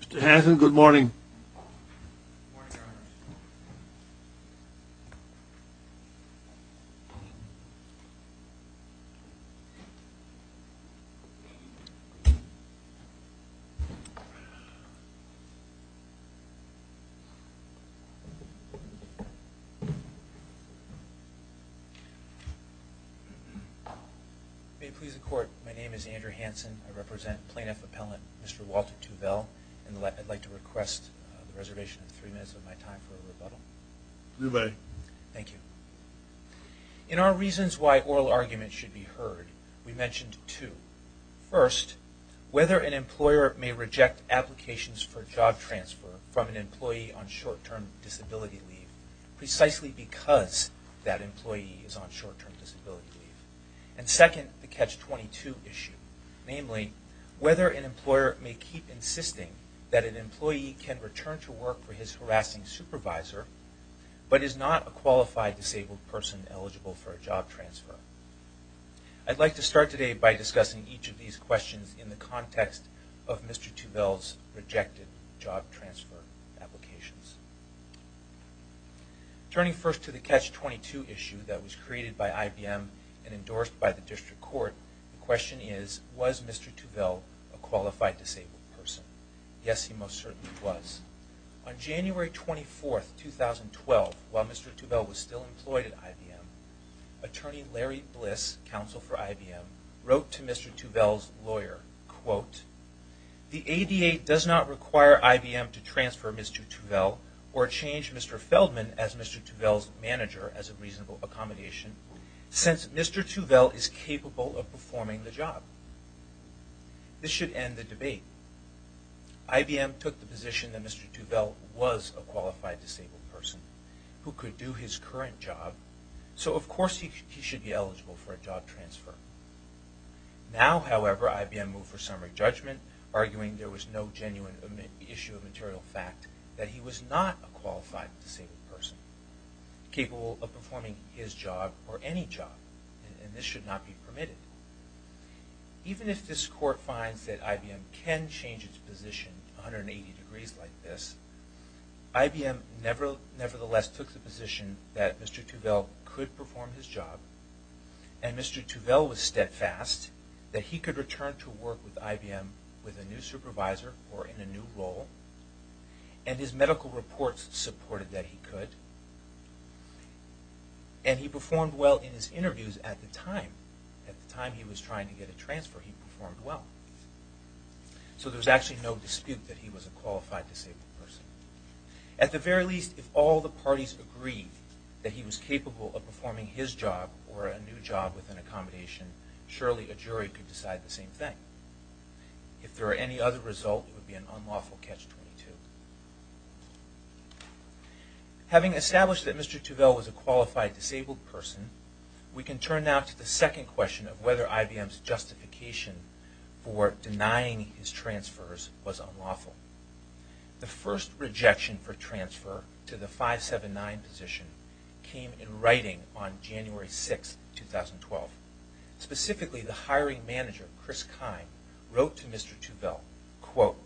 Mr. Hanson, good morning. Good morning, Your Honors. May it please the Court, my name is Andrew Hanson. I represent Plaintiff Appellant Mr. Walter Tuvell. I'd like to request the reservation of three minutes of my time for a rebuttal. You may. Thank you. In our reasons why oral arguments should be heard, we mentioned two. First, whether an employer may reject applications for job transfer from an employee on short-term disability leave precisely because that employee is on short-term disability leave. And second, the Catch-22 issue. Namely, whether an employer may keep insisting that an employee can return to work for his harassing supervisor but is not a qualified disabled person eligible for a job transfer. I'd like to start today by discussing each of these questions in the context of Mr. Tuvell's rejected job transfer applications. Turning first to the Catch-22 issue that was created by IBM and endorsed by the District Court, the question is, was Mr. Tuvell a qualified disabled person? Yes, he most certainly was. On January 24, 2012, while Mr. Tuvell was still employed at IBM, attorney Larry Bliss, counsel for IBM, wrote to Mr. Tuvell's lawyer, The ADA does not require IBM to transfer Mr. Tuvell or change Mr. Feldman as Mr. Tuvell's manager as a reasonable accommodation since Mr. Tuvell is capable of performing the job. This should end the debate. IBM took the position that Mr. Tuvell was a qualified disabled person who could do his current job, so of course he should be eligible for a job transfer. Now, however, IBM moved for summary judgment, arguing there was no genuine issue of material fact that he was not a qualified disabled person capable of performing his job or any job, and this should not be permitted. Even if this Court finds that IBM can change its position 180 degrees like this, IBM nevertheless took the position that Mr. Tuvell could perform his job and Mr. Tuvell was steadfast that he could return to work with IBM with a new supervisor or in a new role, and his medical reports supported that he could, and he performed well in his interviews at the time. At the time he was trying to get a transfer, he performed well. So there's actually no dispute that he was a qualified disabled person. At the very least, if all the parties agreed that he was capable of performing his job or a new job with an accommodation, surely a jury could decide the same thing. If there were any other result, it would be an unlawful catch-22. Having established that Mr. Tuvell was a qualified disabled person, we can turn now to the second question of whether IBM's justification for denying his transfers was unlawful. The first rejection for transfer to the 579 position came in writing on January 6, 2012. Specifically, the hiring manager, Chris Kine, wrote to Mr. Tuvell, quote,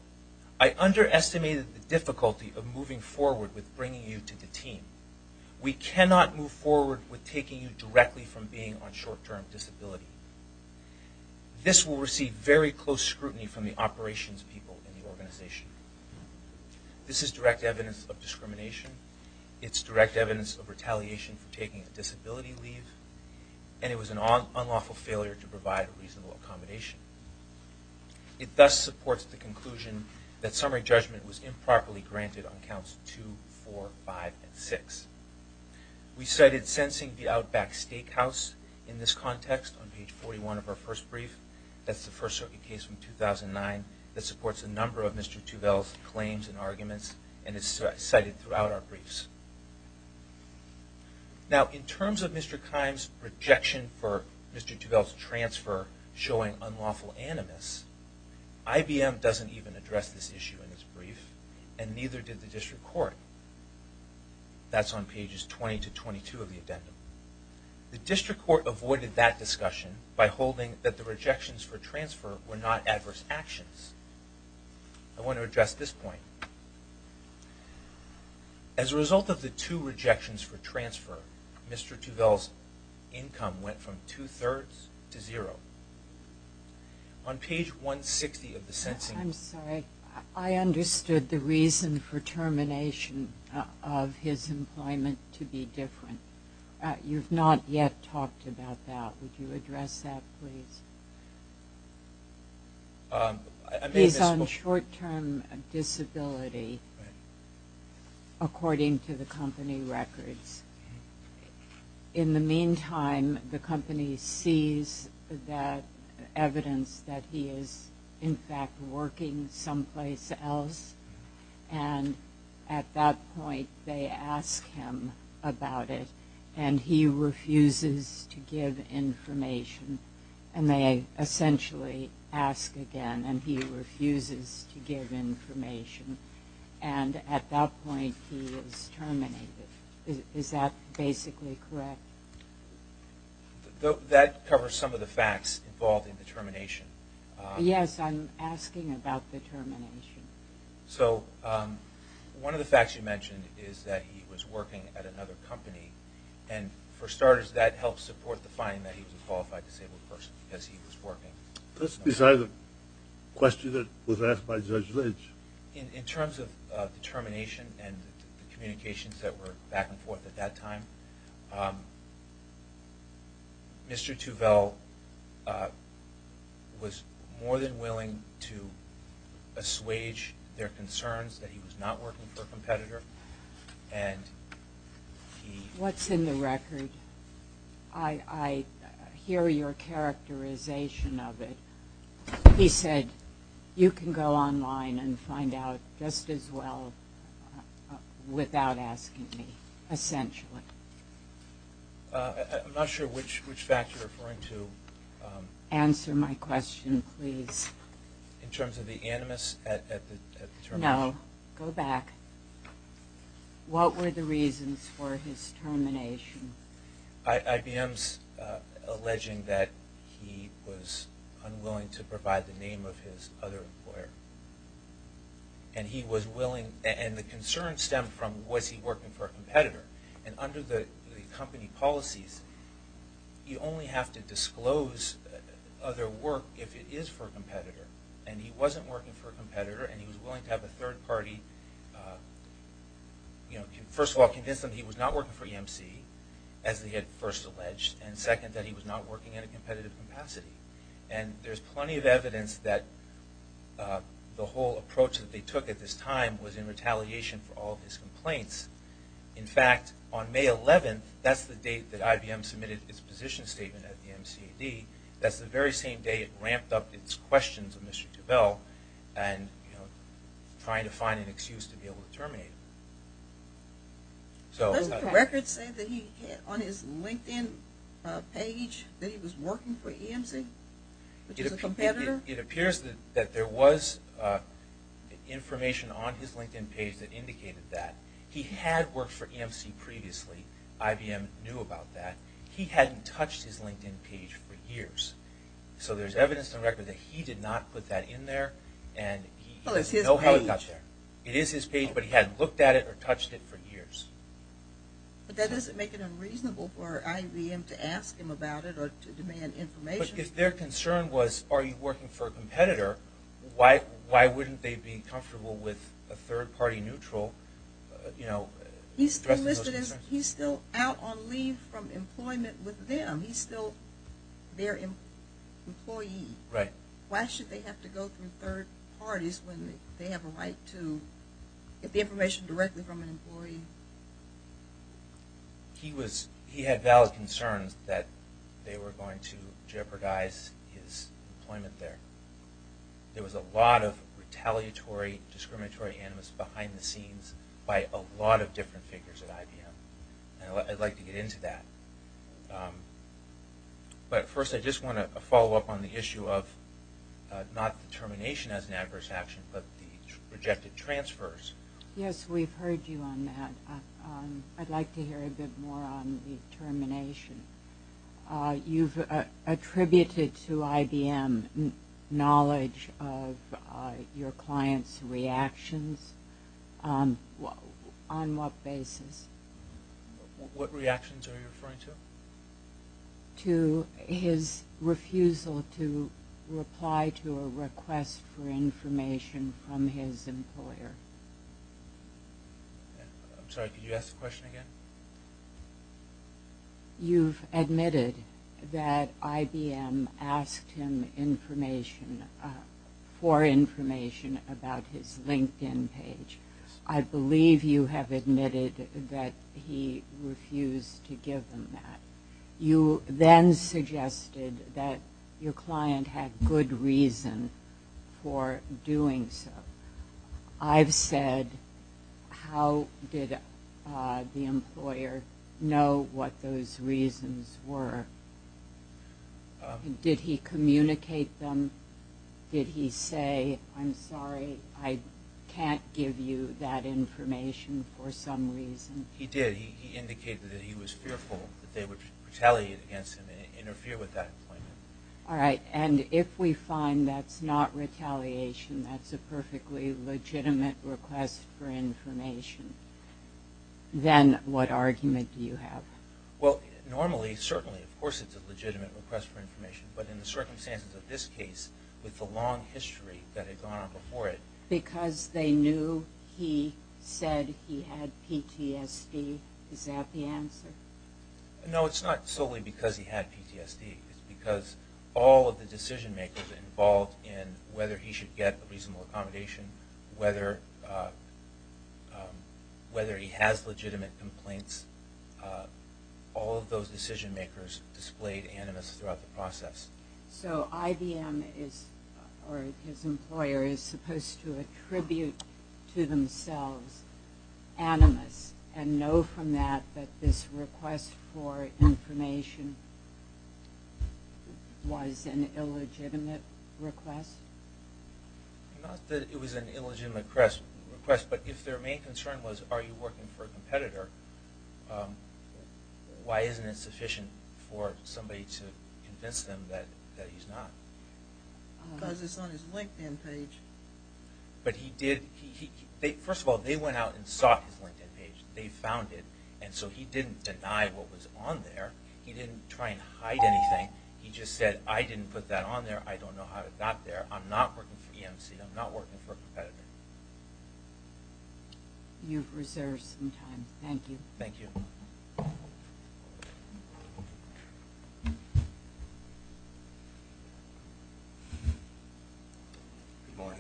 I underestimated the difficulty of moving forward with bringing you to the team. We cannot move forward with taking you directly from being on short-term disability. This will receive very close scrutiny from the operations people in the organization. This is direct evidence of discrimination. It's direct evidence of retaliation for taking a disability leave, and it was an unlawful failure to provide reasonable accommodation. It thus supports the conclusion that summary judgment was improperly granted on counts 2, 4, 5, and 6. We cited Sensing the Outback Steakhouse in this context on page 41 of our first brief. That's the first circuit case from 2009 that supports a number of Mr. Tuvell's claims and arguments, and it's cited throughout our briefs. Now, in terms of Mr. Kine's rejection for Mr. Tuvell's transfer showing unlawful animus, IBM doesn't even address this issue in its brief, and neither did the district court. That's on pages 20 to 22 of the addendum. The district court avoided that discussion by holding that the rejections for transfer were not adverse actions. I want to address this point. As a result of the two rejections for transfer, Mr. Tuvell's income went from two-thirds to zero. On page 160 of the Sensing... I'm sorry. I understood the reason for termination of his employment to be different. You've not yet talked about that. Would you address that, please? He's on short-term disability, according to the company records. In the meantime, the company sees that evidence that he is, in fact, working someplace else, and at that point they ask him about it, and he refuses to give information. And they essentially ask again, and he refuses to give information. And at that point, he is terminated. Is that basically correct? That covers some of the facts involved in the termination. Yes, I'm asking about the termination. So one of the facts you mentioned is that he was working at another company, and for starters, that helps support the finding that he was a qualified disabled person because he was working. That's beside the question that was asked by Judge Lynch. In terms of termination and communications that were back and forth at that time, Mr. Tuvel was more than willing to assuage their concerns that he was not working for a competitor. What's in the record? I hear your characterization of it. He said, you can go online and find out just as well without asking me, essentially. I'm not sure which fact you're referring to. Answer my question, please. In terms of the animus at the termination. No, go back. What were the reasons for his termination? IBM's alleging that he was unwilling to provide the name of his other employer. And the concern stemmed from, was he working for a competitor? And under the company policies, you only have to disclose other work if it is for a competitor. And he wasn't working for a competitor, and he was willing to have a third party, first of all, convince them he was not working for EMC, as they had first alleged, and second, that he was not working in a competitive capacity. And there's plenty of evidence that the whole approach that they took at this time was in retaliation for all of his complaints. In fact, on May 11th, that's the date that IBM submitted its position statement at the MCAD, that's the very same day it ramped up its questions of Mr. Tuvel, and trying to find an excuse to be able to terminate him. Doesn't the record say on his LinkedIn page that he was working for EMC, which is a competitor? It appears that there was information on his LinkedIn page that indicated that. He had worked for EMC previously. IBM knew about that. He hadn't touched his LinkedIn page for years. So there's evidence in the record that he did not put that in there, and he doesn't know how it got there. It is his page, but he hadn't looked at it or touched it for years. But that doesn't make it unreasonable for IBM to ask him about it or to demand information. But if their concern was, are you working for a competitor, why wouldn't they be comfortable with a third party neutral, you know, addressing those concerns? He's still out on leave from employment with them. He's still their employee. Right. Why should they have to go through third parties when they have a right to get the information directly from an employee? He had valid concerns that they were going to jeopardize his employment there. There was a lot of retaliatory, discriminatory animus behind the scenes by a lot of different figures at IBM. I'd like to get into that. But first I just want to follow up on the issue of not the termination as an adverse action, but the rejected transfers. Yes, we've heard you on that. I'd like to hear a bit more on the termination. You've attributed to IBM knowledge of your client's reactions. On what basis? What reactions are you referring to? To his refusal to reply to a request for information from his employer. I'm sorry, could you ask the question again? You've admitted that IBM asked him for information about his LinkedIn page. I believe you have admitted that he refused to give them that. You then suggested that your client had good reason for doing so. I've said, how did the employer know what those reasons were? Did he communicate them? Did he say, I'm sorry, I can't give you that information for some reason? He did. He indicated that he was fearful that they would retaliate against him and interfere with that employment. If we find that's not retaliation, that's a perfectly legitimate request for information, then what argument do you have? Normally, certainly, of course it's a legitimate request for information. But in the circumstances of this case, with the long history that had gone on before it. Because they knew he said he had PTSD, is that the answer? No, it's not solely because he had PTSD. It's because all of the decision makers involved in whether he should get a reasonable accommodation, whether he has legitimate complaints, all of those decision makers displayed animus throughout the process. So IBM, or his employer, is supposed to attribute to themselves animus, and know from that that this request for information was an illegitimate request? Not that it was an illegitimate request, but if their main concern was, are you working for a competitor, why isn't it sufficient for somebody to convince them that he's not? Because it's on his LinkedIn page. First of all, they went out and sought his LinkedIn page. They found it. So he didn't deny what was on there. He didn't try and hide anything. He just said, I didn't put that on there. I don't know how it got there. I'm not working for EMC. I'm not working for a competitor. You've reserved some time. Thank you. Thank you. Good morning.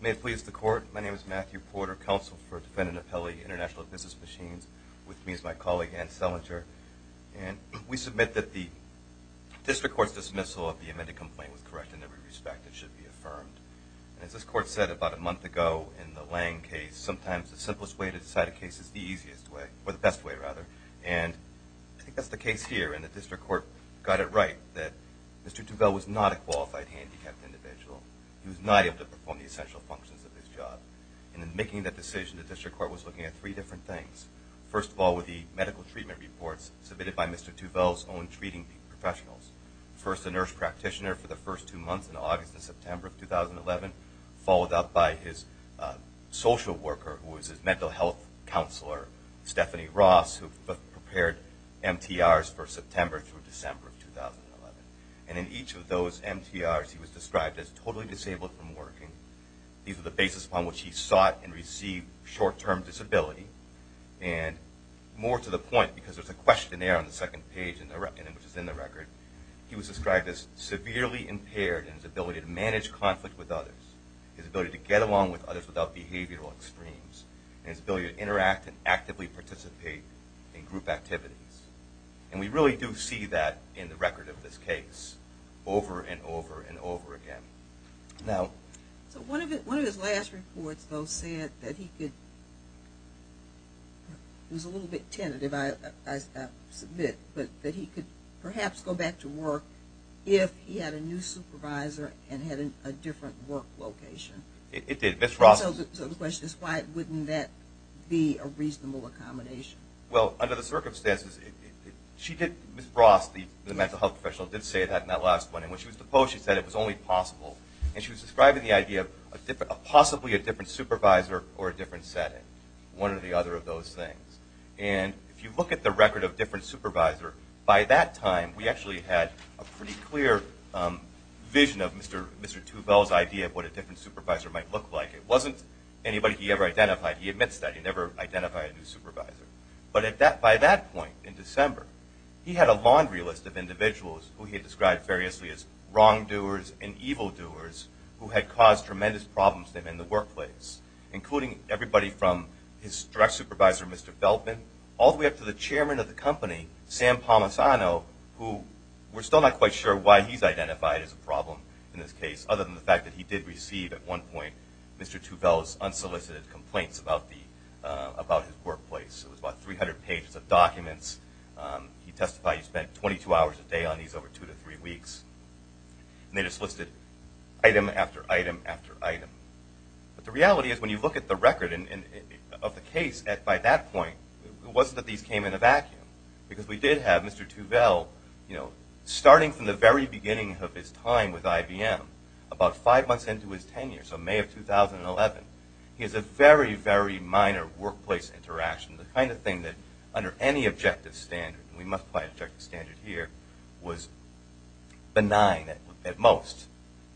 May it please the Court, my name is Matthew Porter, Counsel for Defendant Apelli, International Business Machines, with me is my colleague Ann Selinger. We submit that the District Court's dismissal of the amended complaint was correct in every respect. It should be affirmed. As this Court said about a month ago in the Lange case, sometimes the simplest way to decide a case is the easiest way, or the best way, rather. And I think that's the case here. And the District Court got it right that Mr. Tuvel was not a qualified handicapped individual. He was not able to perform the essential functions of his job. And in making that decision, the District Court was looking at three different things. First of all, with the medical treatment reports submitted by Mr. Tuvel's own treating professionals. First, a nurse practitioner for the first two months in August and September of 2011, followed up by his social worker, who was his mental health counselor, Stephanie Ross, who prepared MTRs for September through December of 2011. And in each of those MTRs, he was described as totally disabled from working. These were the basis upon which he sought and received short-term disability. And more to the point, because there's a questionnaire on the second page, which is in the record, he was described as severely impaired in his ability to manage conflict with others, his ability to get along with others without behavioral extremes, and his ability to interact and actively participate in group activities. And we really do see that in the record of this case over and over and over again. So one of his last reports, though, said that he could, it was a little bit tentative, I submit, but that he could perhaps go back to work if he had a new supervisor and had a different work location. It did. So the question is, why wouldn't that be a reasonable accommodation? Well, under the circumstances, she did, Ms. Ross, the mental health professional, did say that in that last one. When she was deposed, she said it was only possible. And she was describing the idea of possibly a different supervisor or a different setting, one or the other of those things. And if you look at the record of different supervisor, by that time, we actually had a pretty clear vision of Mr. Tuvel's idea of what a different supervisor might look like. It wasn't anybody he ever identified. He admits that. He never identified a new supervisor. But by that point in December, he had a laundry list of individuals who he had described variously as wrongdoers and evildoers who had caused tremendous problems to him in the workplace, including everybody from his direct supervisor, Mr. Feldman, all the way up to the chairman of the company, Sam Palmisano, who we're still not quite sure why he's identified as a problem in this case, other than the fact that he did receive at one point Mr. Tuvel's unsolicited complaints about his workplace. It was about 300 pages of documents. He testified he spent 22 hours a day on these over two to three weeks. And they just listed item after item after item. But the reality is when you look at the record of the case, by that point, it wasn't that these came in a vacuum, because we did have Mr. Tuvel starting from the very beginning of his time with IBM, about five months into his tenure, so May of 2011, he has a very, very minor workplace interaction, the kind of thing that under any objective standard, and we must apply objective standard here, was benign at most.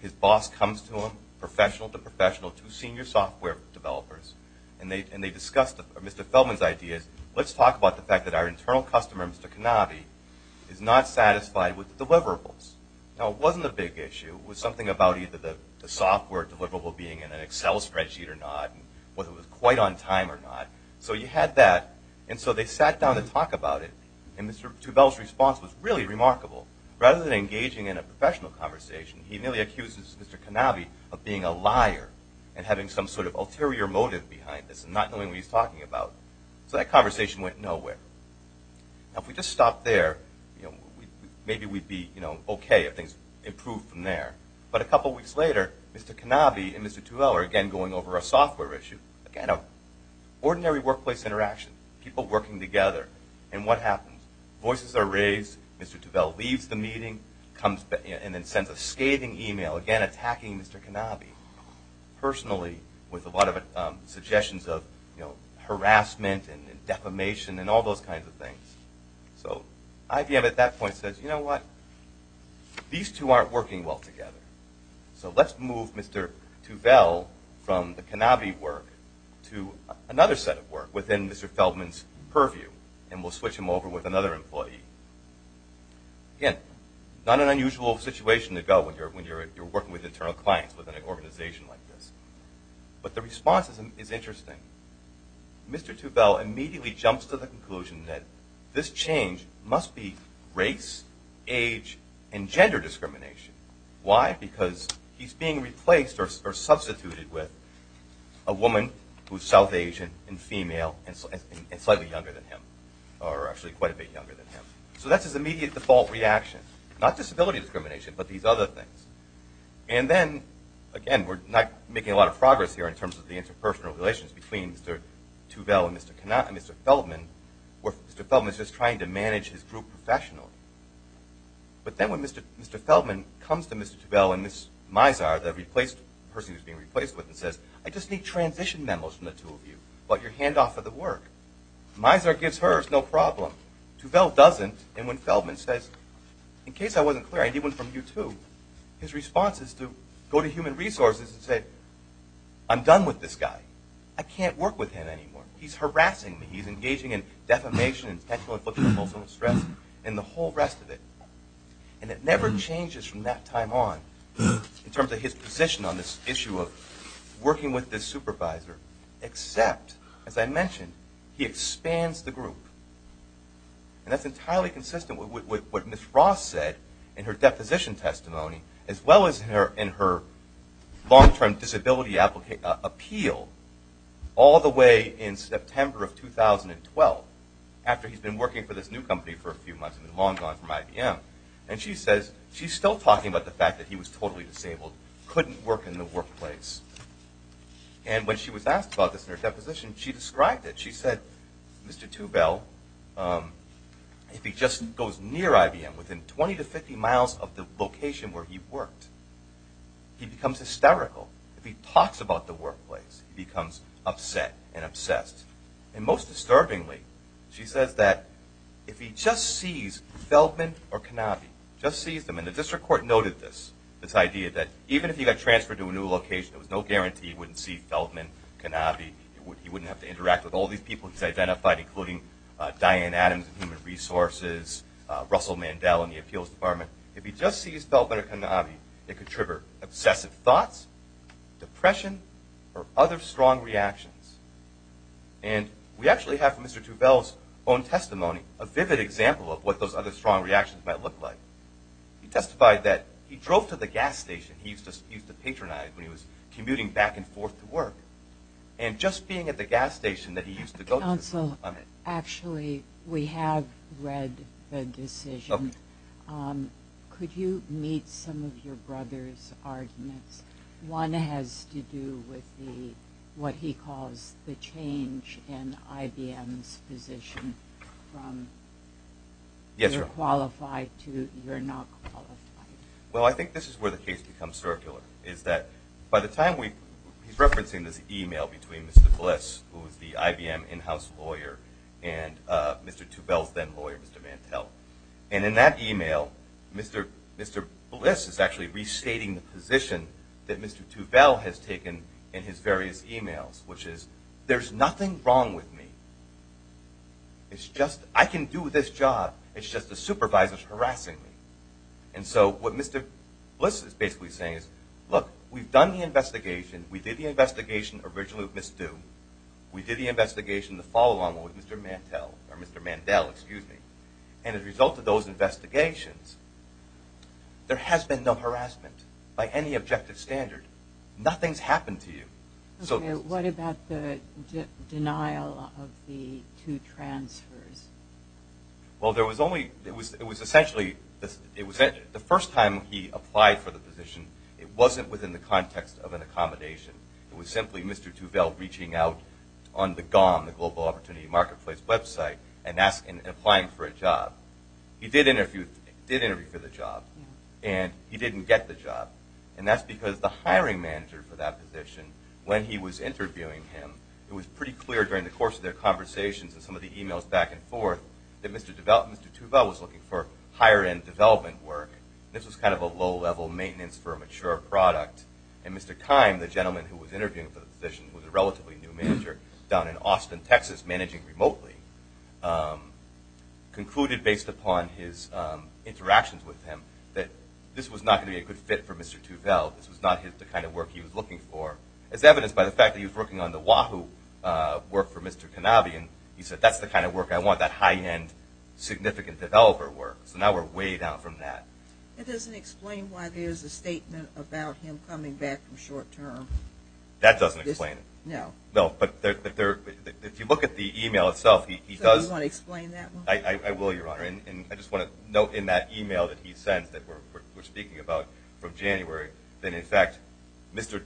His boss comes to him, professional to professional, two senior software developers, and they discuss Mr. Feldman's ideas. Let's talk about the fact that our internal customer, Mr. Cannabi, is not satisfied with the deliverables. Now, it wasn't a big issue. It was something about either the software deliverable being in an Excel spreadsheet or not, whether it was quite on time or not. So you had that, and so they sat down to talk about it, and Mr. Tuvel's response was really remarkable. Rather than engaging in a professional conversation, he nearly accuses Mr. Cannabi of being a liar and having some sort of ulterior motive behind this and not knowing what he's talking about. So that conversation went nowhere. Now, if we just stop there, maybe we'd be okay if things improved from there. But a couple weeks later, Mr. Cannabi and Mr. Tuvel are again going over a software issue. Again, an ordinary workplace interaction, people working together, and what happens? Voices are raised, Mr. Tuvel leaves the meeting, and then sends a scathing email, again attacking Mr. Cannabi. Personally, with a lot of suggestions of harassment and defamation and all those kinds of things. So IBM at that point says, you know what? These two aren't working well together. So let's move Mr. Tuvel from the Cannabi work to another set of work within Mr. Feldman's purview, and we'll switch him over with another employee. Again, not an unusual situation to go when you're working with internal clients within an organization like this. But the response is interesting. Mr. Tuvel immediately jumps to the conclusion that this change must be race, age, and gender discrimination. Why? Because he's being replaced or substituted with a woman who's South Asian and female and slightly younger than him, or actually quite a bit younger than him. So that's his immediate default reaction. Not disability discrimination, but these other things. And then, again, we're not making a lot of progress here in terms of the interpersonal relations between Mr. Tuvel and Mr. Feldman, where Mr. Feldman is just trying to manage his group professionally. But then when Mr. Feldman comes to Mr. Tuvel and Ms. Mizar, the person he's being replaced with, and says, I just need transition memos from the two of you about your handoff of the work, Mizar gives hers no problem. Tuvel doesn't. And when Feldman says, in case I wasn't clear, I need one from you too, his response is to go to human resources and say, I'm done with this guy. I can't work with him anymore. He's harassing me. He's engaging in defamation, intentional infliction of emotional stress, and the whole rest of it. And it never changes from that time on, in terms of his position on this issue of working with this supervisor, except, as I mentioned, he expands the group. And that's entirely consistent with what Ms. Ross said in her deposition testimony, as well as in her long-term disability appeal, all the way in September of 2012, after he's been working for this new company for a few months, been long gone from IBM. And she says, she's still talking about the fact that he was totally disabled, couldn't work in the workplace. And when she was asked about this in her deposition, she described it. She said, Mr. Tubell, if he just goes near IBM, within 20 to 50 miles of the location where he worked, he becomes hysterical. If he talks about the workplace, he becomes upset and obsessed. And most disturbingly, she says that if he just sees Feldman or Kanabi, just sees them, and the district court noted this, this idea that even if he got transferred to a new location, there was no guarantee he wouldn't see Feldman, Kanabi, he wouldn't have to interact with all these people he's identified, including Diane Adams of Human Resources, Russell Mandel in the appeals department. If he just sees Feldman or Kanabi, it could trigger obsessive thoughts, depression, or other strong reactions. And we actually have, from Mr. Tubell's own testimony, a vivid example of what those other strong reactions might look like. He testified that he drove to the gas station he used to patronize when he was commuting back and forth to work, and just being at the gas station that he used to go to. Counsel, actually, we have read the decision. Could you meet some of your brother's arguments? One has to do with what he calls the change in IBM's position from you're qualified to you're not qualified. Well, I think this is where the case becomes circular, is that by the time we, he's referencing this e-mail between Mr. Bliss, who is the IBM in-house lawyer, and Mr. Tubell's then lawyer, Mr. Mantel. And in that e-mail, Mr. Bliss is actually restating the position that Mr. Tubell has taken in his various e-mails, which is, there's nothing wrong with me. It's just, I can do this job, it's just the supervisors harassing me. And so what Mr. Bliss is basically saying is, look, we've done the investigation. We did the investigation originally with Ms. Dew. We did the investigation in the follow-on with Mr. Mantel, or Mr. Mandel, excuse me. And as a result of those investigations, there has been no harassment by any objective standard. Nothing's happened to you. Okay, what about the denial of the two transfers? Well, there was only, it was essentially, the first time he applied for the position, it wasn't within the context of an accommodation. It was simply Mr. Tubell reaching out on the GOM, the Global Opportunity Marketplace website, and applying for a job. He did interview for the job, and he didn't get the job. And that's because the hiring manager for that position, when he was interviewing him, it was pretty clear during the course of their conversations and some of the e-mails back and forth that Mr. Tubell was looking for higher-end development work. This was kind of a low-level maintenance for a mature product. And Mr. Keim, the gentleman who was interviewing for the position, who was a relatively new manager down in Austin, Texas, managing remotely, concluded based upon his interactions with him that this was not going to be a good fit for Mr. Tubell. This was not the kind of work he was looking for. As evidenced by the fact that he was working on the Wahoo work for Mr. Kanabi, he said, that's the kind of work I want, that high-end significant developer work. So now we're way down from that. It doesn't explain why there's a statement about him coming back in short term. That doesn't explain it. No. No, but if you look at the e-mail itself, he does... So you want to explain that one? I will, Your Honor. And I just want to note in that e-mail that he sends that we're speaking about from January, that, in fact, Mr.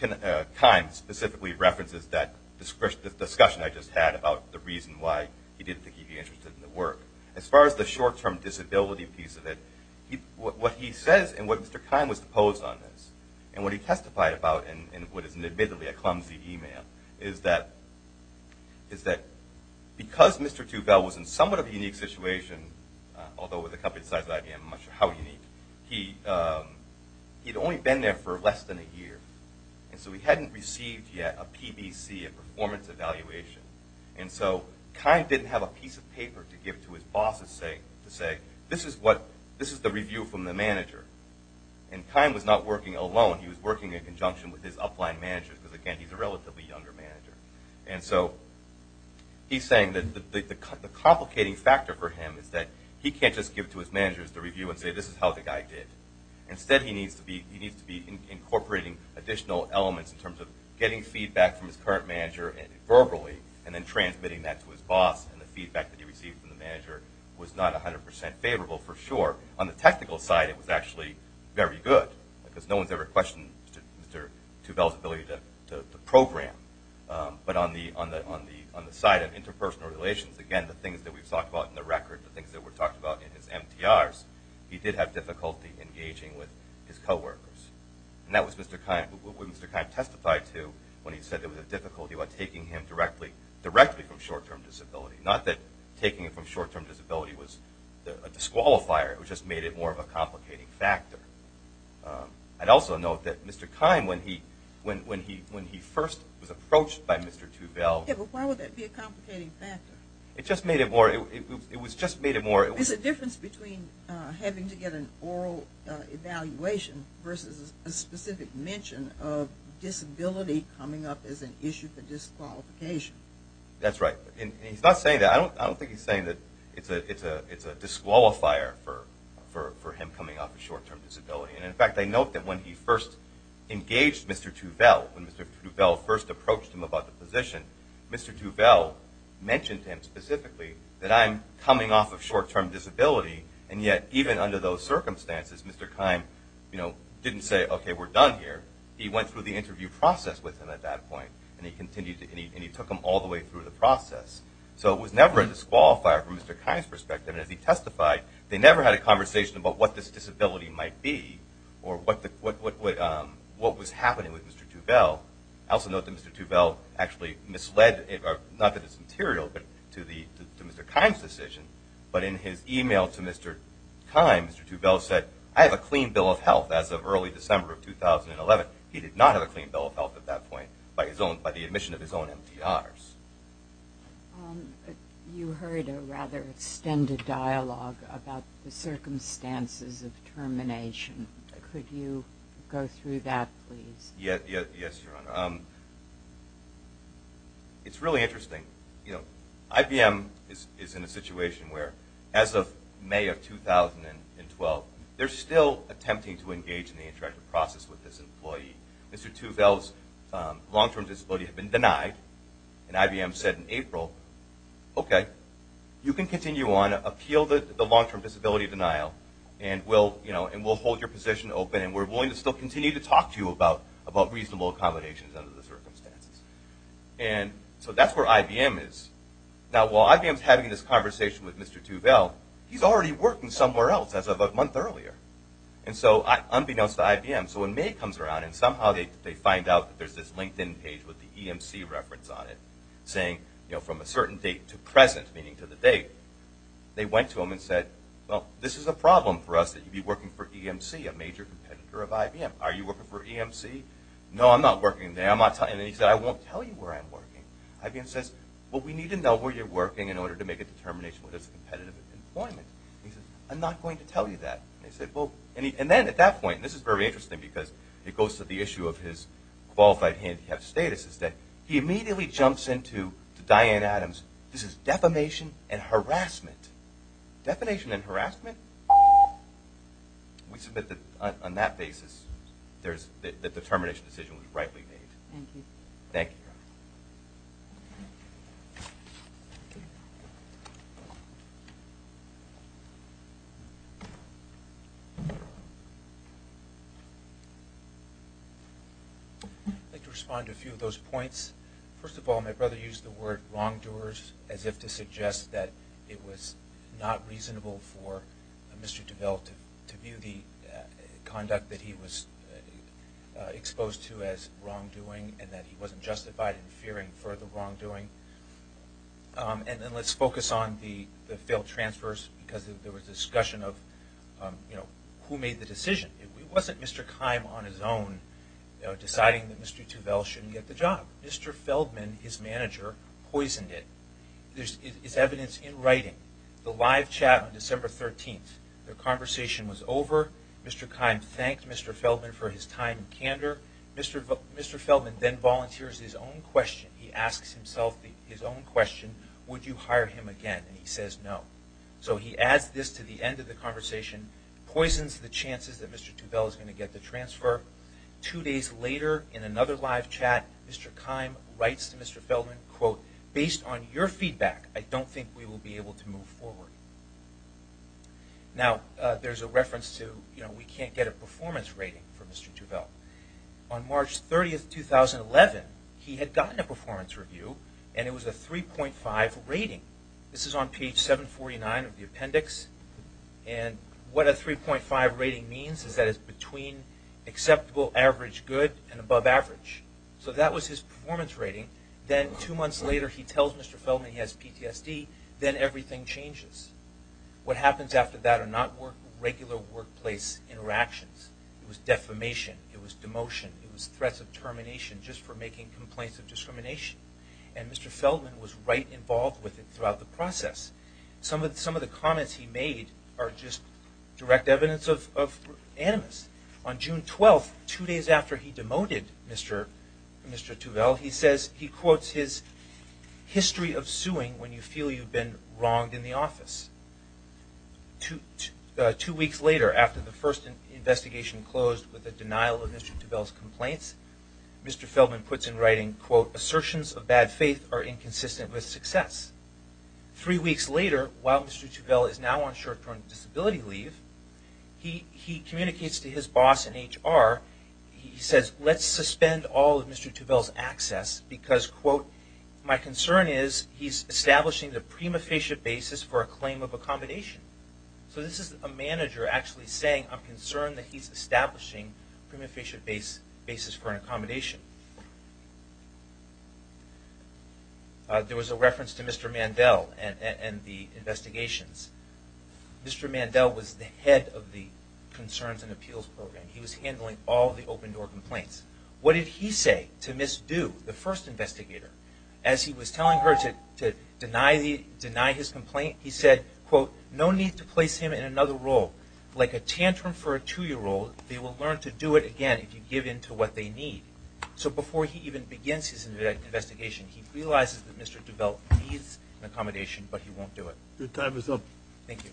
Keim specifically references that discussion I just had about the reason why he didn't think he'd be interested in the work. As far as the short-term disability piece of it, what he says and what Mr. Keim was opposed on this, and what he testified about in what is admittedly a clumsy e-mail, is that because Mr. Tubell was in somewhat of a unique situation, although with a company the size of IBM, I'm not sure how unique, he'd only been there for less than a year. And so he hadn't received yet a PBC, a performance evaluation. And so Keim didn't have a piece of paper to give to his bosses to say, this is the review from the manager. And Keim was not working alone. He was working in conjunction with his upline managers because, again, he's a relatively younger manager. And so he's saying that the complicating factor for him is that he can't just give to his managers the review and say, this is how the guy did. Instead, he needs to be incorporating additional elements in terms of getting feedback from his current manager verbally and then transmitting that to his boss. And the feedback that he received from the manager was not 100% favorable for sure. On the technical side, it was actually very good because no one's ever questioned Mr. Tubell's ability to program. But on the side of interpersonal relations, again, the things that we've talked about in the record, the things that were talked about in his MTRs, he did have difficulty engaging with his coworkers. And that was what Mr. Keim testified to when he said there was a difficulty about taking him directly from short-term disability. Not that taking him from short-term disability was a disqualifier. It just made it more of a complicating factor. I'd also note that Mr. Keim, when he first was approached by Mr. Tubell... Yeah, but why would that be a complicating factor? It just made it more... There's a difference between having to get an oral evaluation versus a specific mention of disability coming up as an issue for disqualification. That's right. He's not saying that. I don't think he's saying that it's a disqualifier for him coming up with short-term disability. In fact, I note that when he first engaged Mr. Tubell, when Mr. Tubell first approached him about the position, Mr. Tubell mentioned to him specifically that I'm coming off of short-term disability. And yet, even under those circumstances, Mr. Keim didn't say, okay, we're done here. He went through the interview process with him at that point. And he took him all the way through the process. So it was never a disqualifier from Mr. Keim's perspective. And as he testified, they never had a conversation about what this disability might be or what was happening with Mr. Tubell. I also note that Mr. Tubell actually misled, not that it's material, but to Mr. Keim's decision. But in his email to Mr. Keim, Mr. Tubell said, I have a clean bill of health as of early December of 2011. He did not have a clean bill of health at that point by the admission of his own MDRs. You heard a rather extended dialogue about the circumstances of termination. Could you go through that, please? Yes, Your Honor. It's really interesting. IBM is in a situation where, as of May of 2012, they're still attempting to engage in the interactive process with this employee. Mr. Tubell's long-term disability had been denied. And IBM said in April, okay, you can continue on, appeal the long-term disability denial, and we'll hold your position open, and we're willing to still continue to talk to you about reasonable accommodations under the circumstances. And so that's where IBM is. Now, while IBM's having this conversation with Mr. Tubell, he's already working somewhere else as of a month earlier. And so, unbeknownst to IBM, so when May comes around, and somehow they find out that there's this LinkedIn page with the EMC reference on it, saying from a certain date to present, meaning to the date, they went to him and said, well, this is a problem for us that you'd be working for EMC, a major competitor of IBM. Are you working for EMC? No, I'm not working there. And he said, I won't tell you where I'm working. IBM says, well, we need to know where you're working in order to make a determination whether it's competitive employment. He says, I'm not going to tell you that. And they said, well, and then at that point, and this is very interesting, because it goes to the issue of his qualified handicapped status, This is defamation and harassment. Defamation and harassment? We submit that on that basis, the determination decision was rightly made. Thank you. I'd like to respond to a few of those points. First of all, my brother used the word wrongdoers as if to suggest that it was not reasonable for Mr. Tuvel to view the conduct that he was exposed to as wrongdoing and that he wasn't justified in fearing further wrongdoing. And then let's focus on the failed transfers, because there was discussion of who made the decision. It wasn't Mr. Keim on his own deciding that Mr. Tuvel shouldn't get the job. Mr. Feldman, his manager, poisoned it. There's evidence in writing. The live chat on December 13th, the conversation was over. Mr. Keim thanked Mr. Feldman for his time and candor. Mr. Feldman then volunteers his own question. He asks himself his own question, would you hire him again? And he says no. So he adds this to the end of the conversation, poisons the chances that Mr. Tuvel is going to get the transfer. Two days later, in another live chat, Mr. Keim writes to Mr. Feldman, quote, based on your feedback, I don't think we will be able to move forward. Now, there's a reference to we can't get a performance rating for Mr. Tuvel. On March 30th, 2011, he had gotten a performance review and it was a 3.5 rating. This is on page 749 of the appendix. And what a 3.5 rating means is that it's between acceptable average good and above average. So that was his performance rating. Then two months later, he tells Mr. Feldman he has PTSD. Then everything changes. What happens after that are not regular workplace interactions. It was defamation. It was demotion. It was threats of termination just for making complaints of discrimination. And Mr. Feldman was right involved with it throughout the process. Some of the comments he made are just direct evidence of animus. On June 12th, two days after he demoted Mr. Tuvel, he says he quotes his history of suing when you feel you've been wronged in the office. Two weeks later, after the first investigation closed with the denial of Mr. Tuvel's complaints, Mr. Feldman puts in writing, quote, assertions of bad faith are inconsistent with success. Three weeks later, while Mr. Tuvel is now on short-term disability leave, he communicates to his boss in HR. He says let's suspend all of Mr. Tuvel's access because, quote, my concern is he's establishing the prima facie basis for a claim of accommodation. So this is a manager actually saying I'm concerned that he's establishing a prima facie basis for an accommodation. There was a reference to Mr. Mandel and the investigations. Mr. Mandel was the head of the Concerns and Appeals Program. He was handling all the open-door complaints. What did he say to misdo the first investigator as he was telling her to deny his complaint? He said, quote, no need to place him in another role. Like a tantrum for a two-year-old, they will learn to do it again if you give in to what they need. So before he even begins his investigation, he realizes that Mr. Tuvel needs an accommodation, but he won't do it. Your time is up. Thank you.